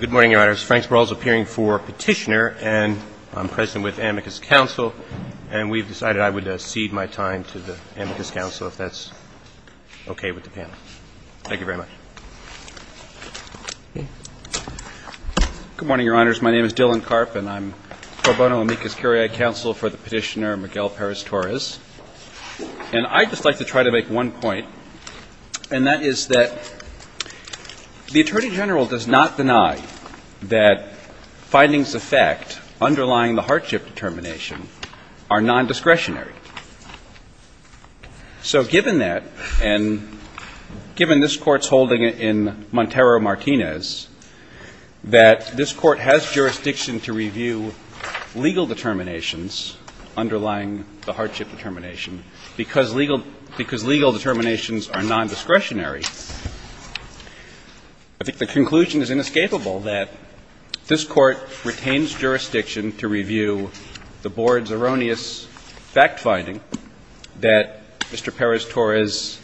Good morning, Your Honors. Frank Sparrow is appearing for petitioner, and I'm present with Amicus Council, and we've decided I would cede my time to the Amicus Council if that's okay with the panel. Thank you very much. Good morning, Your Honors. My name is Dylan Karp, and I'm pro bono Amicus Carriage Counsel for the petitioner, Miguel Perez-Torres. And I'd just like to try to make one point, and that is that the Attorney General does not deny that findings of fact underlying the hardship determination are nondiscretionary. So given that, and given this Court's holding in Montero-Martinez, that this Court has jurisdiction to review legal determinations underlying the hardship determination, because legal determinations are nondiscretionary, I think the conclusion is inescapable that this Court retains jurisdiction to review the Board's erroneous fact finding that Mr. Perez-Torres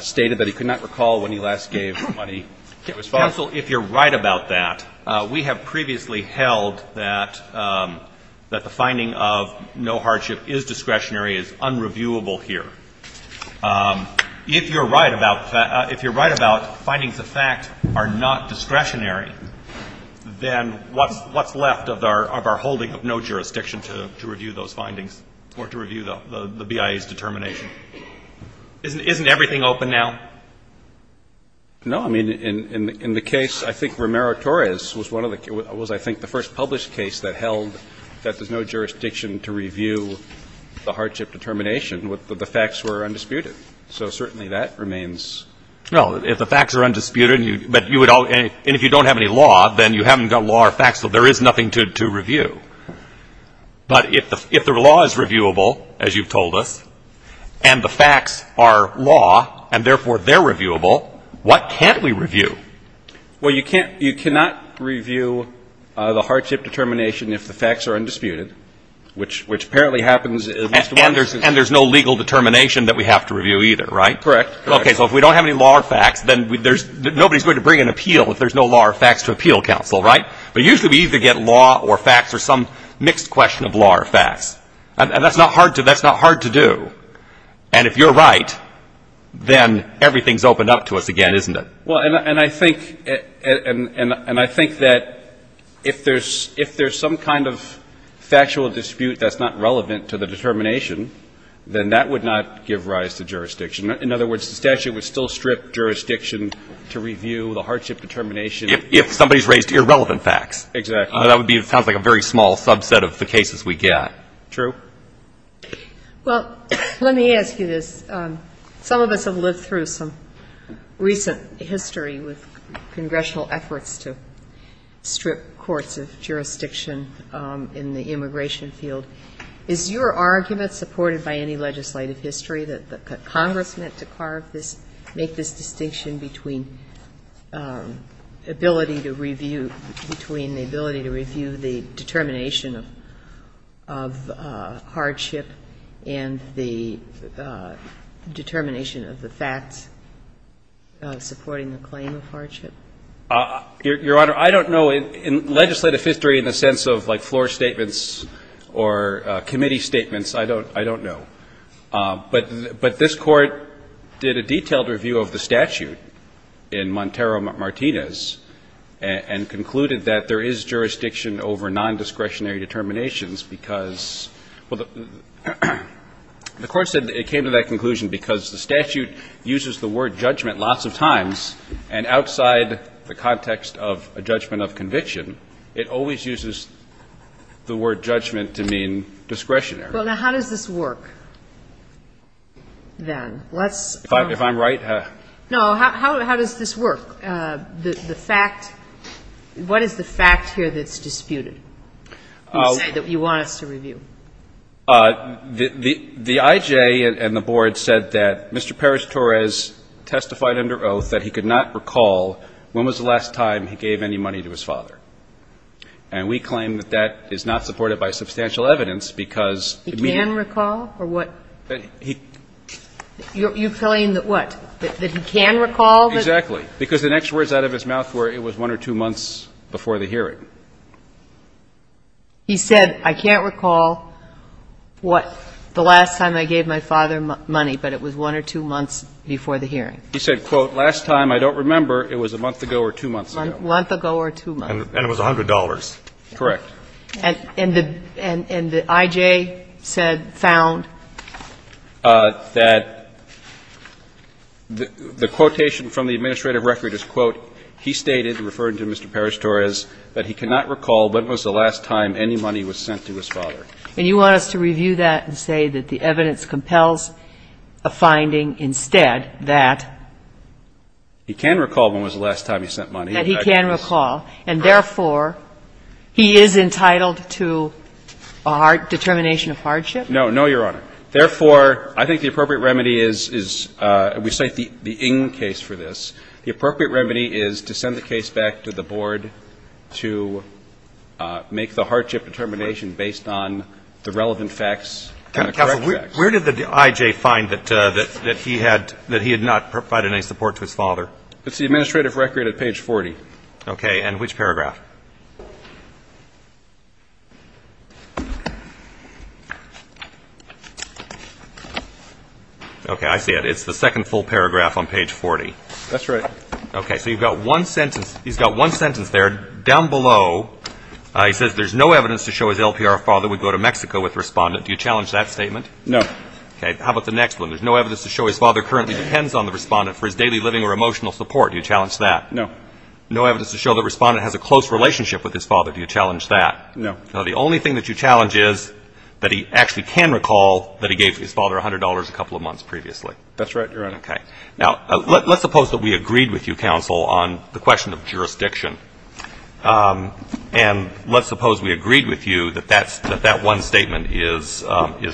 stated that he could not recall when he last gave money to his father. Counsel, if you're right about that, we have previously held that the finding of no hardship is discretionary, is unreviewable here. If you're right about findings of fact are not discretionary, then what's left of our holding of no jurisdiction to review those findings or to review the BIA's determination? Isn't everything open now? No. I mean, in the case, I think Romero-Torres was one of the – was, I think, the first published case that held that there's no jurisdiction to review the hardship determination, that the facts were undisputed. So certainly, that remains… Well, if the facts are undisputed, but you would all – and if you don't have any law, then you haven't got law or facts, so there is nothing to review. But if the law is reviewable, as you've told us, and the facts are law, and therefore, they are reviewable, what can't we review? Well, you can't – you cannot review the hardship determination if the facts are undisputed, which apparently happens at least once a year. And there's no legal determination that we have to review either, right? Correct. Okay, so if we don't have any law or facts, then there's – nobody's going to bring an appeal if there's no law or facts to appeal counsel, right? But usually, we either get law or facts or some mixed question of law or facts. And that's not hard to do. And if you're right, then everything's opened up to us again, isn't it? Well, and I think – and I think that if there's some kind of factual dispute that's not relevant to the determination, then that would not give rise to jurisdiction. In other words, the statute would still strip jurisdiction to review the hardship determination. If somebody's raised irrelevant facts. Exactly. That would be – it sounds like a very small subset of the cases we get. True. Well, let me ask you this. Some of us have lived through some recent history with congressional efforts to strip courts of jurisdiction in the immigration field. Is your argument, supported by any legislative history, that Congress meant to carve this – make this distinction between ability to review – between the ability to review the determination of hardship and the determination of the facts supporting the claim of hardship? Your Honor, I don't know. In legislative history, in the sense of, like, floor statements or committee statements, I don't – I don't know. But this Court did a jurisdiction over non-discretionary determinations because – well, the Court said it came to that conclusion because the statute uses the word judgment lots of times, and outside the context of a judgment of conviction, it always uses the word judgment to mean discretionary. Well, now, how does this work, then? Let's – If I'm right – No. How does this work? The fact – what is the fact here that's disputed? You say that you want us to review. The I.J. and the Board said that Mr. Perez-Torres testified under oath that he could not recall when was the last time he gave any money to his father. And we claim that that is not supported by substantial evidence because – He can recall? Or what – He – You're telling that, what, that he can recall? Exactly. Because the next words out of his mouth were it was one or two months before the hearing. He said, I can't recall what – the last time I gave my father money, but it was one or two months before the hearing. He said, quote, last time, I don't remember, it was a month ago or two months ago. A month ago or two months. And it was $100. Correct. And the – and the I.J. said – found? That the quotation from the administrative record is, quote, he stated, referring to Mr. Perez-Torres, that he cannot recall when was the last time any money was sent to his father. And you want us to review that and say that the evidence compels a finding instead that – He can recall when was the last time he sent money. That he can recall. And therefore, he is entitled to a determination of hardship? No. No, Your Honor. Therefore, I think the appropriate remedy is – we cite the Ng case for this. The appropriate remedy is to send the case back to the board to make the hardship determination based on the relevant facts and the correct facts. Counsel, where did the I.J. find that he had not provided any support to his father? It's the administrative record at page 40. Okay. And which paragraph? Okay. I see it. It's the second full paragraph on page 40. That's right. Okay. So you've got one sentence – he's got one sentence there. Down below, he says, there's no evidence to show his LPR father would go to Mexico with the respondent. Do you challenge that statement? No. Okay. How about the next one? There's no evidence to show his father currently depends on the respondent for his daily living or emotional support. Do you challenge that? No. No evidence to show the respondent has a close relationship with his father. Do you challenge that? No. So the only thing that you challenge is that he actually can recall that he gave his father $100 a couple of months previously. That's right, Your Honor. Okay. Now, let's suppose that we agreed with you, Counsel, on the question of jurisdiction. And let's suppose we agreed with you that that one statement is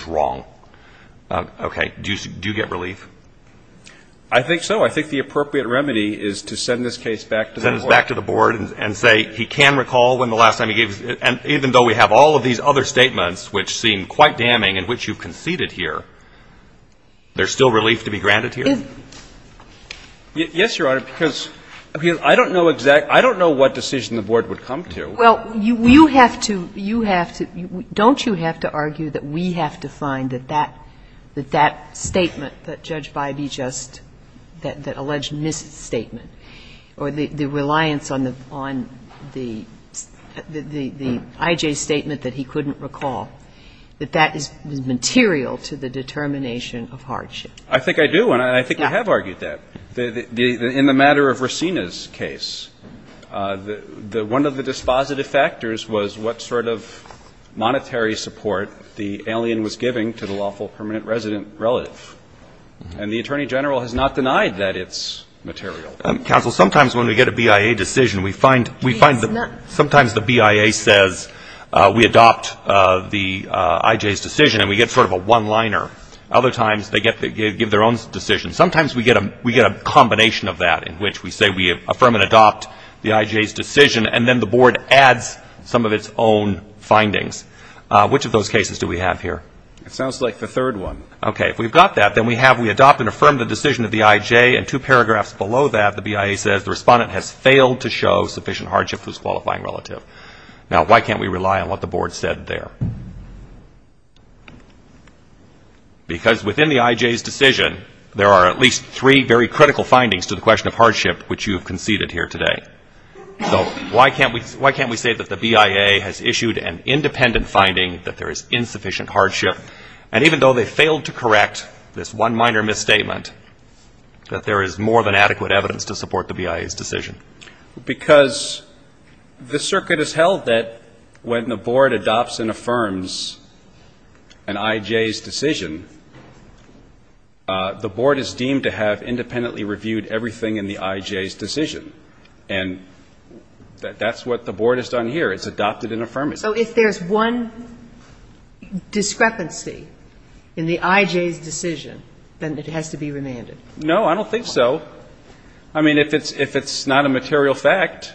wrong. Okay. Do you get relief? I think so. I think the appropriate remedy is to send this case back to the Board. Send this back to the Board and say he can recall when the last time he gave his father – and even though we have all of these other statements which seem quite damning in which you've conceded here, there's still relief to be granted here? Yes, Your Honor, because I don't know exact – I don't know what decision the Board would come to. Well, you have to – you have to – don't you have to argue that we have to find that that – that that statement that Judge Bybee just – that alleged misstatement or the reliance on the – on the – the I.J. statement that he couldn't recall, that that is – was material to the determination of hardship? I think I do, and I think we have argued that. Yeah. In the matter of Racina's case, the – one of the dispositive factors was what sort of monetary support the alien was giving to the lawful permanent resident relative, and the Attorney General has not denied that it's material. Counsel, sometimes when we get a BIA decision, we find – we find that sometimes the BIA says we adopt the I.J.'s decision and we get sort of a one-liner. Other times they get – they give their own decision. Sometimes we get a – we get a combination of that in which we say we affirm and adopt the I.J.'s decision, and then the Board adds some of its own findings. Which of those cases do we have here? It sounds like the third one. Okay. If we've got that, then we have – we adopt and affirm the decision of the I.J., and two paragraphs below that, the BIA says the respondent has failed to show sufficient hardship to his qualifying relative. Now why can't we rely on what the Board said there? Because within the I.J.'s decision, there are at least three very critical findings to the question of hardship which you have conceded here today. So why can't we – why can't we say that the BIA has issued an independent finding that there is insufficient hardship, and even though they failed to correct this one minor misstatement, that there is more than adequate evidence to support the BIA's decision? Because the circuit has held that when the Board adopts and affirms an I.J.'s decision, the Board is deemed to have independently reviewed everything in the I.J.'s decision. And that's what the Board has done here. It's adopted and affirmed it. So if there's one discrepancy in the I.J.'s decision, then it has to be remanded? No, I don't think so. I mean, if it's not a material fact,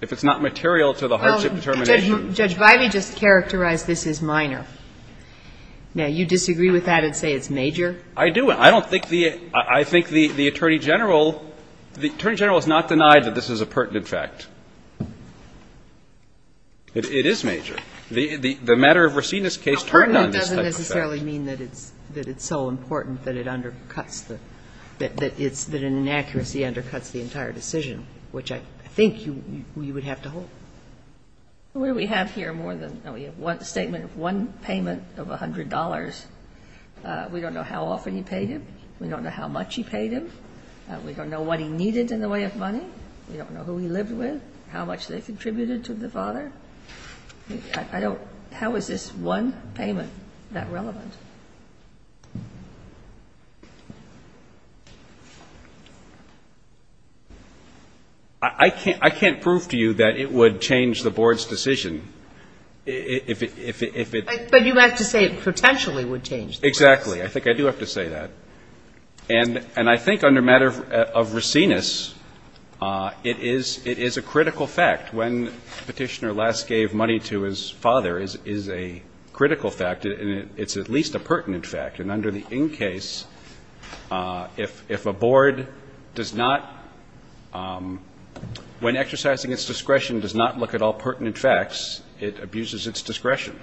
if it's not material to the hardship determination – Judge Bivey just characterized this as minor. Now, you disagree with that and say it's major? I do. I don't think the – I think the Attorney General – the Attorney General has not denied that this is a pertinent fact. It is major. The matter of Racine's case turned on this type of fact. Pertinent doesn't necessarily mean that it's so important that it undercuts the – that it's – that an inaccuracy undercuts the entire decision, which I think you would have to hold. Well, what do we have here more than – we have one statement of one payment of $100. We don't know how often he paid him. We don't know how much he paid him. We don't know what he needed in the way of money. We don't know who he lived with, how much they contributed to the father. I don't – how is this one payment that relevant? I can't – I can't prove to you that it would change the Board's decision if it – But you have to say it potentially would change the case. Exactly. I think I do have to say that. And I think under matter of Racine's, it is a critical fact. When Petitioner last gave money to his father is a critical fact. And it's at least a pertinent fact. And under the in case, if a Board does not – when exercising its discretion does not look at all pertinent facts, it abuses its discretion.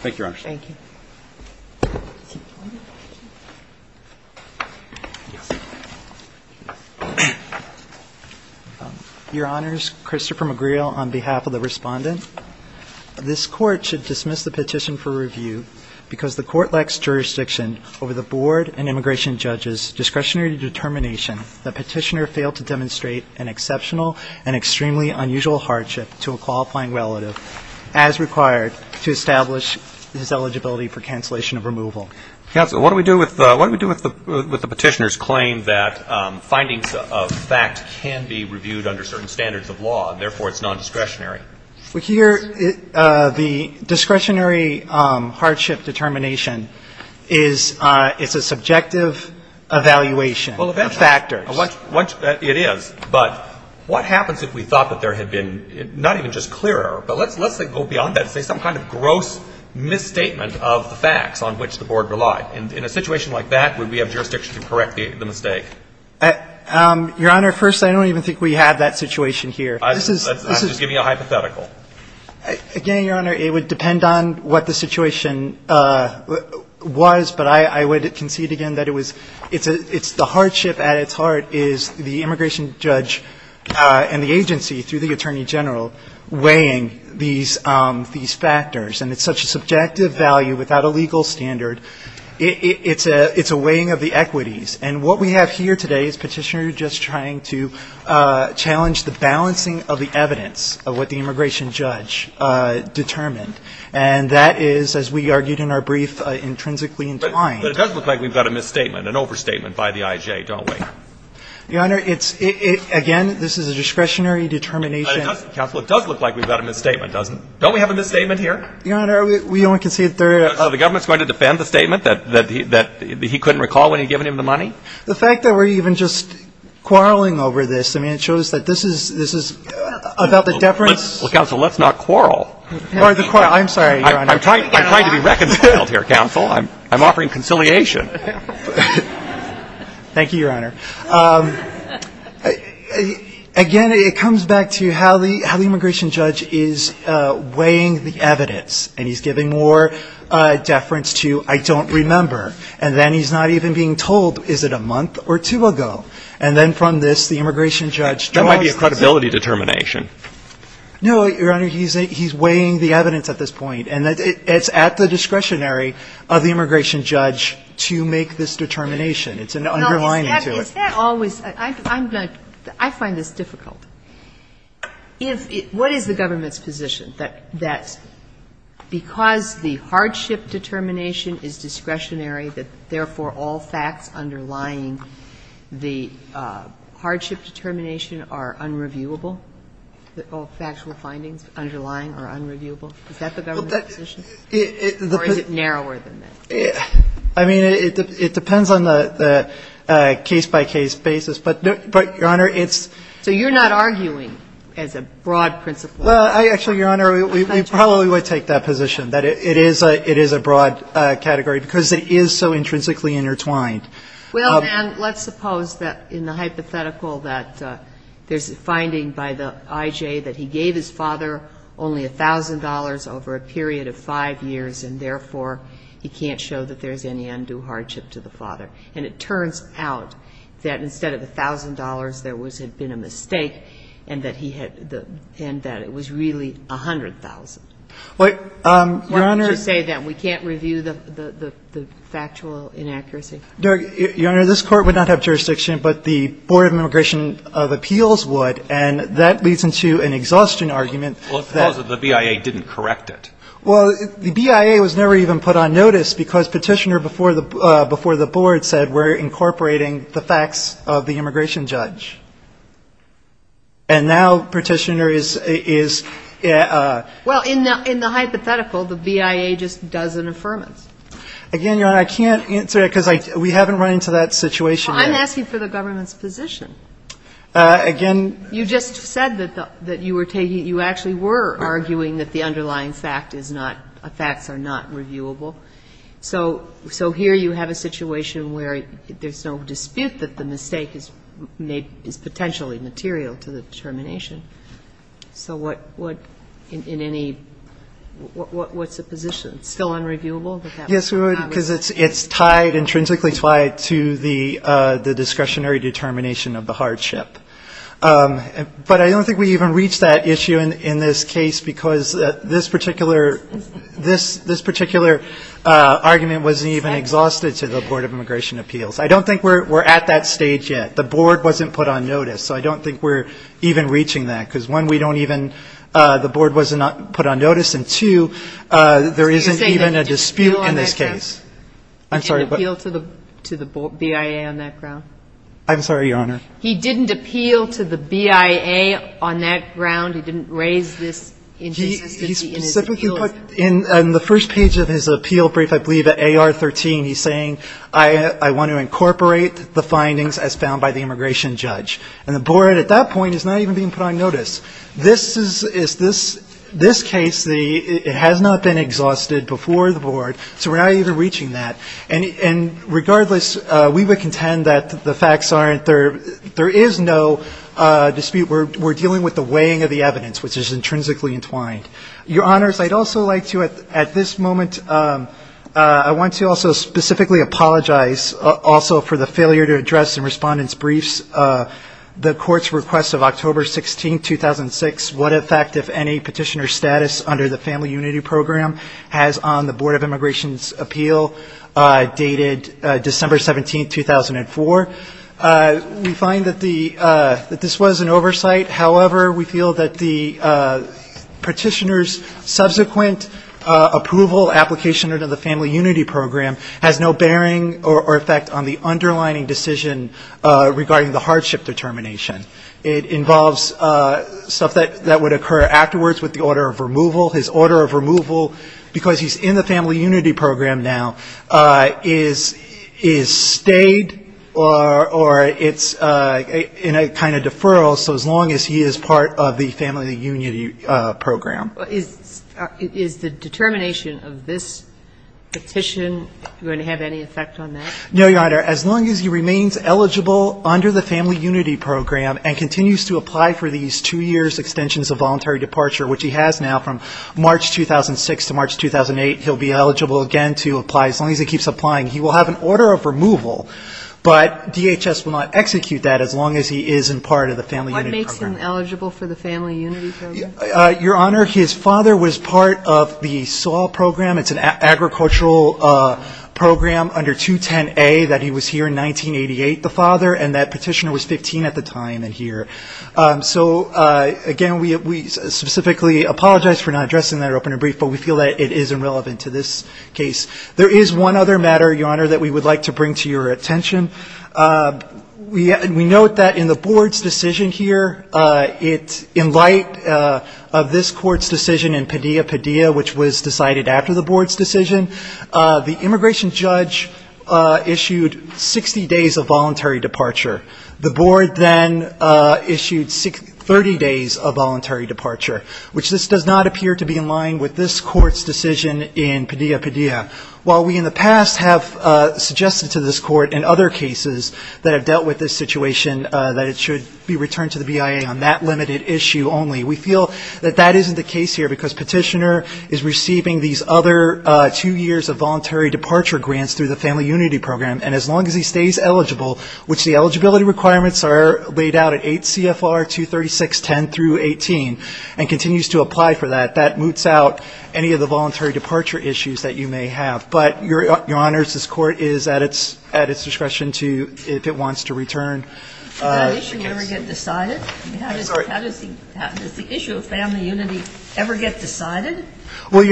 Thank you, Your Honors. Thank you. Your Honors, Christopher McGreal, on behalf of the Respondent, this Court should dismiss the petition for review because the Court lacks jurisdiction over the Board and immigration judge's discretionary determination that Petitioner failed to demonstrate an exceptional and extremely unusual hardship to a qualifying relative as required to establish his eligibility for cancellation of removal. Counsel, what do we do with the Petitioner's claim that findings of fact can be reviewed under certain standards of law and therefore it's nondiscretionary? The discretionary hardship determination is – it's a subjective evaluation of factors. Well, eventually. It is. But what happens if we thought that there had been – not even just clearer, but let's go beyond that and say some kind of gross misstatement of the facts on which the Board relied? In a situation like that, would we have jurisdiction to correct the mistake? Your Honor, first, I don't even think we have that situation here. I'm just giving you a hypothetical. Again, Your Honor, it would depend on what the situation was, but I would concede again that it was – it's the hardship at its heart is the immigration judge and the agency through the Attorney General weighing these factors. And it's such a subjective value without a legal standard. It's a weighing of the equities. And what we have here today is Petitioner just trying to challenge the balancing of the evidence of what the immigration judge determined. And that is, as we argued in our brief, intrinsically entwined. But it does look like we've got a misstatement, an overstatement by the IJ, don't we? Your Honor, it's – again, this is a discretionary determination. But it does – counsel, it does look like we've got a misstatement, doesn't it? Don't we have a misstatement here? Your Honor, we only concede that there – So the government's going to defend the statement that he couldn't recall when he'd given him the money? The fact that we're even just quarreling over this, I mean, it shows that this is – this is about the deference – Well, counsel, let's not quarrel. I'm sorry, Your Honor. I'm trying to be reconciled here, counsel. I'm offering conciliation. Thank you, Your Honor. Again, it comes back to how the immigration judge is weighing the evidence. And he's giving more deference to, I don't remember. And then he's not even being told, is it a month or two ago? And then from this, the immigration judge draws the – That might be a credibility determination. No, Your Honor, he's weighing the evidence at this point. And it's at the discretionary of the immigration judge to make this determination. It's an underlining to it. Well, is that always – I find this difficult. What is the government's position, that because the hardship determination is discretionary, that therefore all facts underlying the hardship determination are unreviewable, all factual findings underlying are unreviewable? Is that the government's position? Or is it narrower than that? I mean, it depends on the case-by-case basis. But, Your Honor, it's – So you're not arguing as a broad principle. Well, actually, Your Honor, we probably would take that position, that it is a broad category, because it is so intrinsically intertwined. Well, and let's suppose that in the hypothetical that there's a finding by the IJ that he had been in prison for five years, and therefore he can't show that there's any undue hardship to the father. And it turns out that instead of $1,000, there had been a mistake, and that he had – and that it was really $100,000. Well, Your Honor – Why don't you say that we can't review the factual inaccuracy? Your Honor, this Court would not have jurisdiction, but the Board of Immigration of Appeals would. And that leads into an exhaustion argument that – Well, let's suppose that the BIA didn't correct it. Well, the BIA was never even put on notice, because Petitioner before the – before the Board said, we're incorporating the facts of the immigration judge. And now Petitioner is – is – Well, in the – in the hypothetical, the BIA just does an affirmance. Again, Your Honor, I can't answer that, because I – we haven't run into that situation yet. Well, I'm asking for the government's position. Again – You just said that the – that you were taking – you actually were arguing that the underlying fact is not – facts are not reviewable. So – so here you have a situation where there's no dispute that the mistake is made – is potentially material to the determination. So what – what – in any – what's the position? Still unreviewable? Yes, Your Honor, because it's tied – intrinsically tied to the discretionary determination of the hardship. But I don't think we even reached that issue in – in this case, because this particular – this – this particular argument wasn't even exhausted to the Board of Immigration Appeals. I don't think we're at that stage yet. The Board wasn't put on notice, so I don't think we're even reaching that, because one, we don't even – the Board was not put on notice, and two, there isn't even So you're saying they didn't appeal on that ground? I'm sorry, but – They didn't appeal to the – to the BIA on that ground? I'm sorry, Your Honor. He didn't appeal to the BIA on that ground? He didn't raise this inconsistency in his appeals? He specifically put – in the first page of his appeal brief, I believe, at AR 13, he's saying, I – I want to incorporate the findings as found by the immigration judge. And the Board at that point is not even being put on notice. This is – is this – this case, the – it has not been exhausted before the Board, so we're not even reaching that. And regardless, we would contend that the facts aren't – there is no dispute. We're dealing with the weighing of the evidence, which is intrinsically entwined. Your Honors, I'd also like to, at this moment, I want to also specifically apologize also for the failure to address in Respondent's Briefs the Court's request of October 16, 2006, what effect, if any, petitioner's status under the appeal dated December 17, 2004. We find that the – that this was an oversight. However, we feel that the petitioner's subsequent approval, application under the Family Unity Program has no bearing or effect on the underlining decision regarding the hardship determination. It involves stuff that would occur afterwards with the order of removal, because he's in the Family Unity Program now, is – is stayed or – or it's in a kind of deferral, so as long as he is part of the Family Unity Program. Is – is the determination of this petition going to have any effect on that? No, Your Honor. As long as he remains eligible under the Family Unity Program and continues to apply for these two years extensions of voluntary departure, which he has now from March 2006 to March 2008, he'll be eligible again to apply. As long as he keeps applying, he will have an order of removal, but DHS will not execute that as long as he is in part of the Family Unity Program. What makes him eligible for the Family Unity Program? Your Honor, his father was part of the SAW Program. It's an agricultural program under 210A that he was here in 1988, the father, and that petitioner was 15 at the time and here. So, again, we – we specifically apologize for not addressing that open and brief, but we feel that it is irrelevant to this case. There is one other matter, Your Honor, that we would like to bring to your attention. We – we note that in the Board's decision here, it – in light of this Court's decision in Padilla-Padilla, which was decided after the Board's decision, the Board then issued 30 days of voluntary departure, which this does not appear to be in line with this Court's decision in Padilla-Padilla. While we in the past have suggested to this Court in other cases that have dealt with this situation that it should be returned to the BIA on that limited issue only, we feel that that isn't the case here because petitioner is receiving these other two years of voluntary departure. So, again, we would like to bring to your attention that in light of this Court's decision in Padilla-Padilla, which was decided after the Board's decision, the Board then issued 30 days of voluntary departure, which this does not appear to be in line with this Court's decision in Padilla-Padilla. While we in the past have suggested that it should be returned to the BIA on that limited issue only, we feel that that isn't the case here because petitioner is receiving these other two years of So, again, we would like to bring to your attention that in light of this Court's Board then issued 30 days of voluntary departure, which this does not appear to be in line with this Court's decision in Padilla-Padilla, while we in the past have suggested that it should be returned to the BIA on that limited issue only, we feel that that isn't the case here because petitioner is receiving these other two years of voluntary departure, while we in the past have suggested that it should be returned to the BIA on that limited issue only, we feel that that isn't the case here because Well, Your Honor, we would suggest, again, because of the Family Unity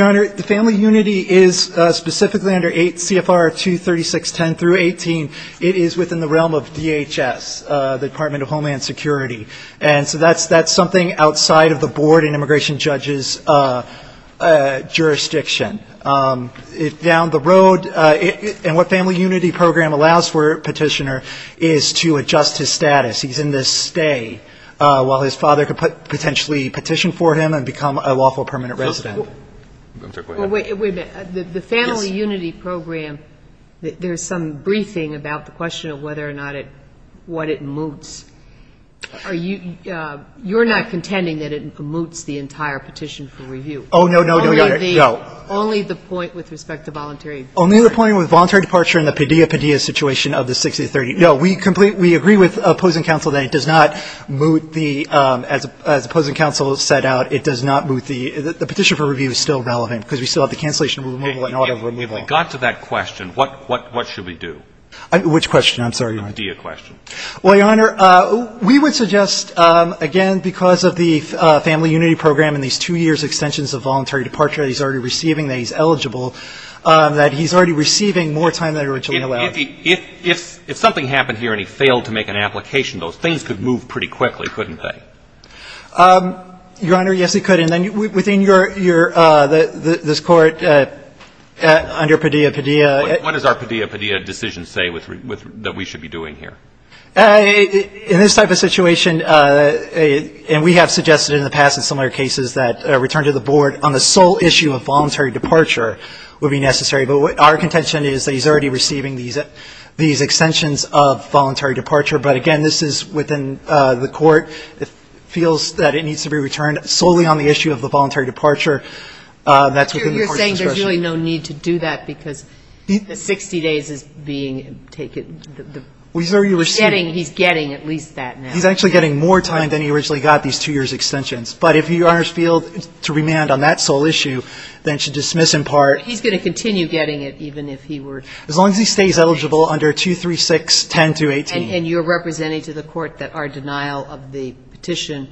Program and these two years' extensions of voluntary departure that he's already receiving that he's eligible, that he's already receiving more time than originally allowed. If something happened here and he failed to make an application, those things could move pretty quickly, couldn't they? Your Honor, yes, it could. And then within your – this Court under Padilla-Padilla What does our Padilla-Padilla decision say that we should be doing here? In this type of situation, and we have suggested in the past in similar cases that a return to the Board on the sole issue of voluntary departure would be necessary. But our contention is that he's already receiving these extensions of voluntary departure, but again, this is within the Court. It feels that it needs to be returned solely on the issue of the voluntary departure. That's within the Court's discretion. You're saying there's really no need to do that because the 60 days is being taken He's already receiving He's getting at least that now. He's actually getting more time than he originally got, these two years' extensions. But if you, Your Honor, feel to remand on that sole issue, then it should dismiss in part He's going to continue getting it even if he were As long as he stays eligible under 236.10.218 And you're representing to the Court that our denial of the petition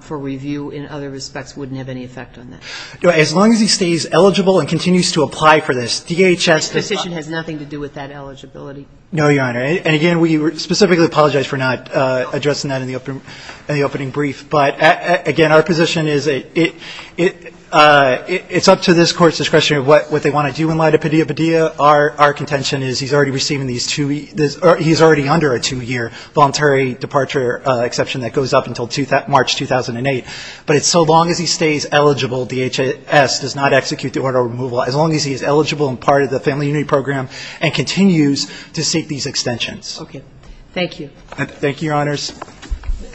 for review in other respects wouldn't have any effect on that? As long as he stays eligible and continues to apply for this, DHS This petition has nothing to do with that eligibility. No, Your Honor. And again, we specifically apologize for not addressing that in the opening brief. But again, our position is it's up to this Court's discretion of what they want to do in light of Padilla-Padilla. Our contention is he's already receiving these two he's already under a two-year voluntary departure exception that goes up until March 2008. But it's so long as he stays eligible, DHS does not execute the order of removal. As long as he is eligible and part of the Family Unity Program and continues to seek these extensions. Okay. Thank you. Thank you, Your Honors.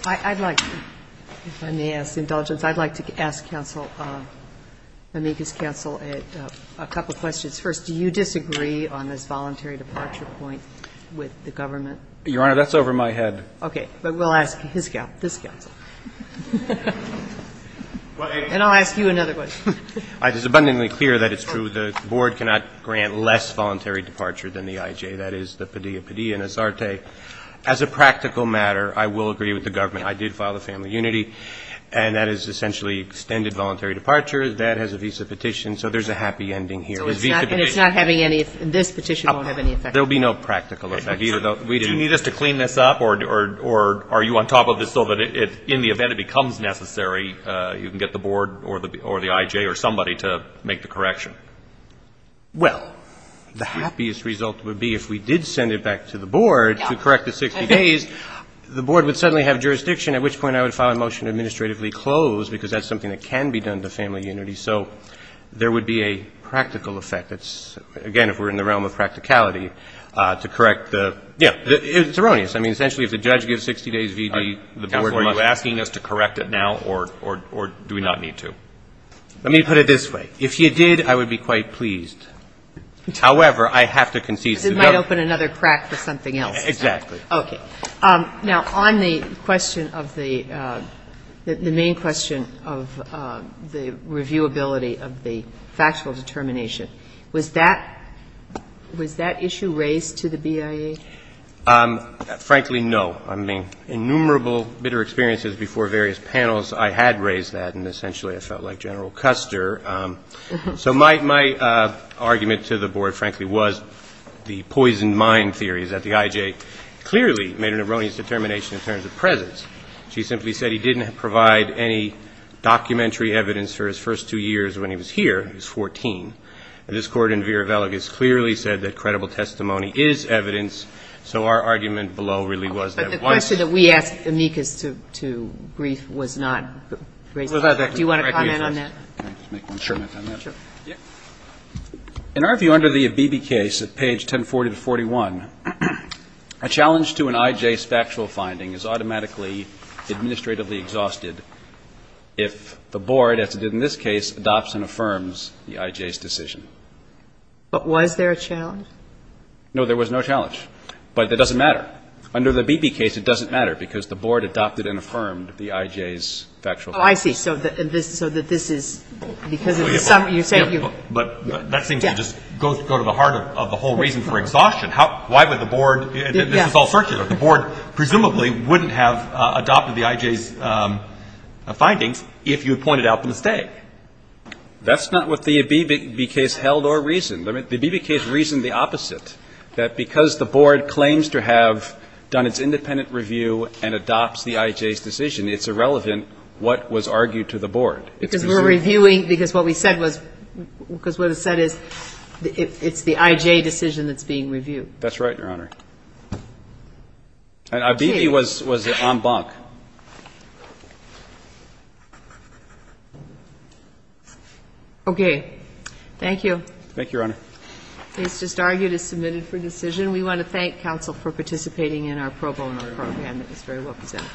I'd like to, if I may ask indulgence, I'd like to ask Counsel Mamega's counsel a couple questions. First, do you disagree on this voluntary departure point with the government? Your Honor, that's over my head. Okay. But we'll ask his counsel, this counsel. And I'll ask you another question. It is abundantly clear that it's true. The board cannot grant less voluntary departure than the IJ, that is, the Padilla-Padilla and Azarte. As a practical matter, I will agree with the government. I did file the Family Unity, and that is essentially extended voluntary departure. That has a visa petition. So there's a happy ending here. So it's not having any, this petition won't have any effect. There will be no practical effect. Do you need us to clean this up, or are you on top of this so that in the event it becomes necessary, you can get the board or the IJ or somebody to make the correction? Well, the happiest result would be if we did send it back to the board to correct the 60 days, the board would suddenly have jurisdiction, at which point I would file a motion to administratively close, because that's something that can be done to Family Unity. So there would be a practical effect. It's, again, if we're in the realm of practicality, to correct the, yeah, it's erroneous. Are you asking us to correct it now, or do we not need to? Let me put it this way. If you did, I would be quite pleased. However, I have to concede to the other. Because it might open another crack for something else. Exactly. Okay. Now, on the question of the main question of the reviewability of the factual determination, was that issue raised to the BIA? Frankly, no. I mean, innumerable bitter experiences before various panels, I had raised that, and essentially I felt like General Custer. So my argument to the board, frankly, was the poisoned mind theory, is that the IJ clearly made an erroneous determination in terms of presence. She simply said he didn't provide any documentary evidence for his first two years when he was here. He was 14. And this Court in verevelegus clearly said that credible testimony is evidence. So our argument below really was that it was. Okay. But the question that we asked amicus to brief was not raised. Do you want to comment on that? Can I just make one comment on that? Sure. Sure. In our view, under the Abebe case at page 1040-41, a challenge to an IJ's factual finding is automatically administratively exhausted if the board, as it did in this case, adopts and affirms the IJ's decision. But was there a challenge? No, there was no challenge. But that doesn't matter. Under the Abebe case, it doesn't matter because the board adopted and affirmed the IJ's factual findings. Oh, I see. So that this is because of the summary. But that seems to just go to the heart of the whole reason for exhaustion. Why would the board, and this is all circular, the board presumably wouldn't have adopted the IJ's findings if you had pointed out the mistake. That's not what the Abebe case held or reasoned. The Abebe case reasoned the opposite, that because the board claims to have done its independent review and adopts the IJ's decision, it's irrelevant what was argued to the board. Because we're reviewing, because what we said was, because what it said is it's the IJ decision that's being reviewed. That's right, Your Honor. And Abebe was en banc. Okay. Thank you. Thank you, Your Honor. This just argued as submitted for decision. We want to thank counsel for participating in our pro bono program. It was very well presented.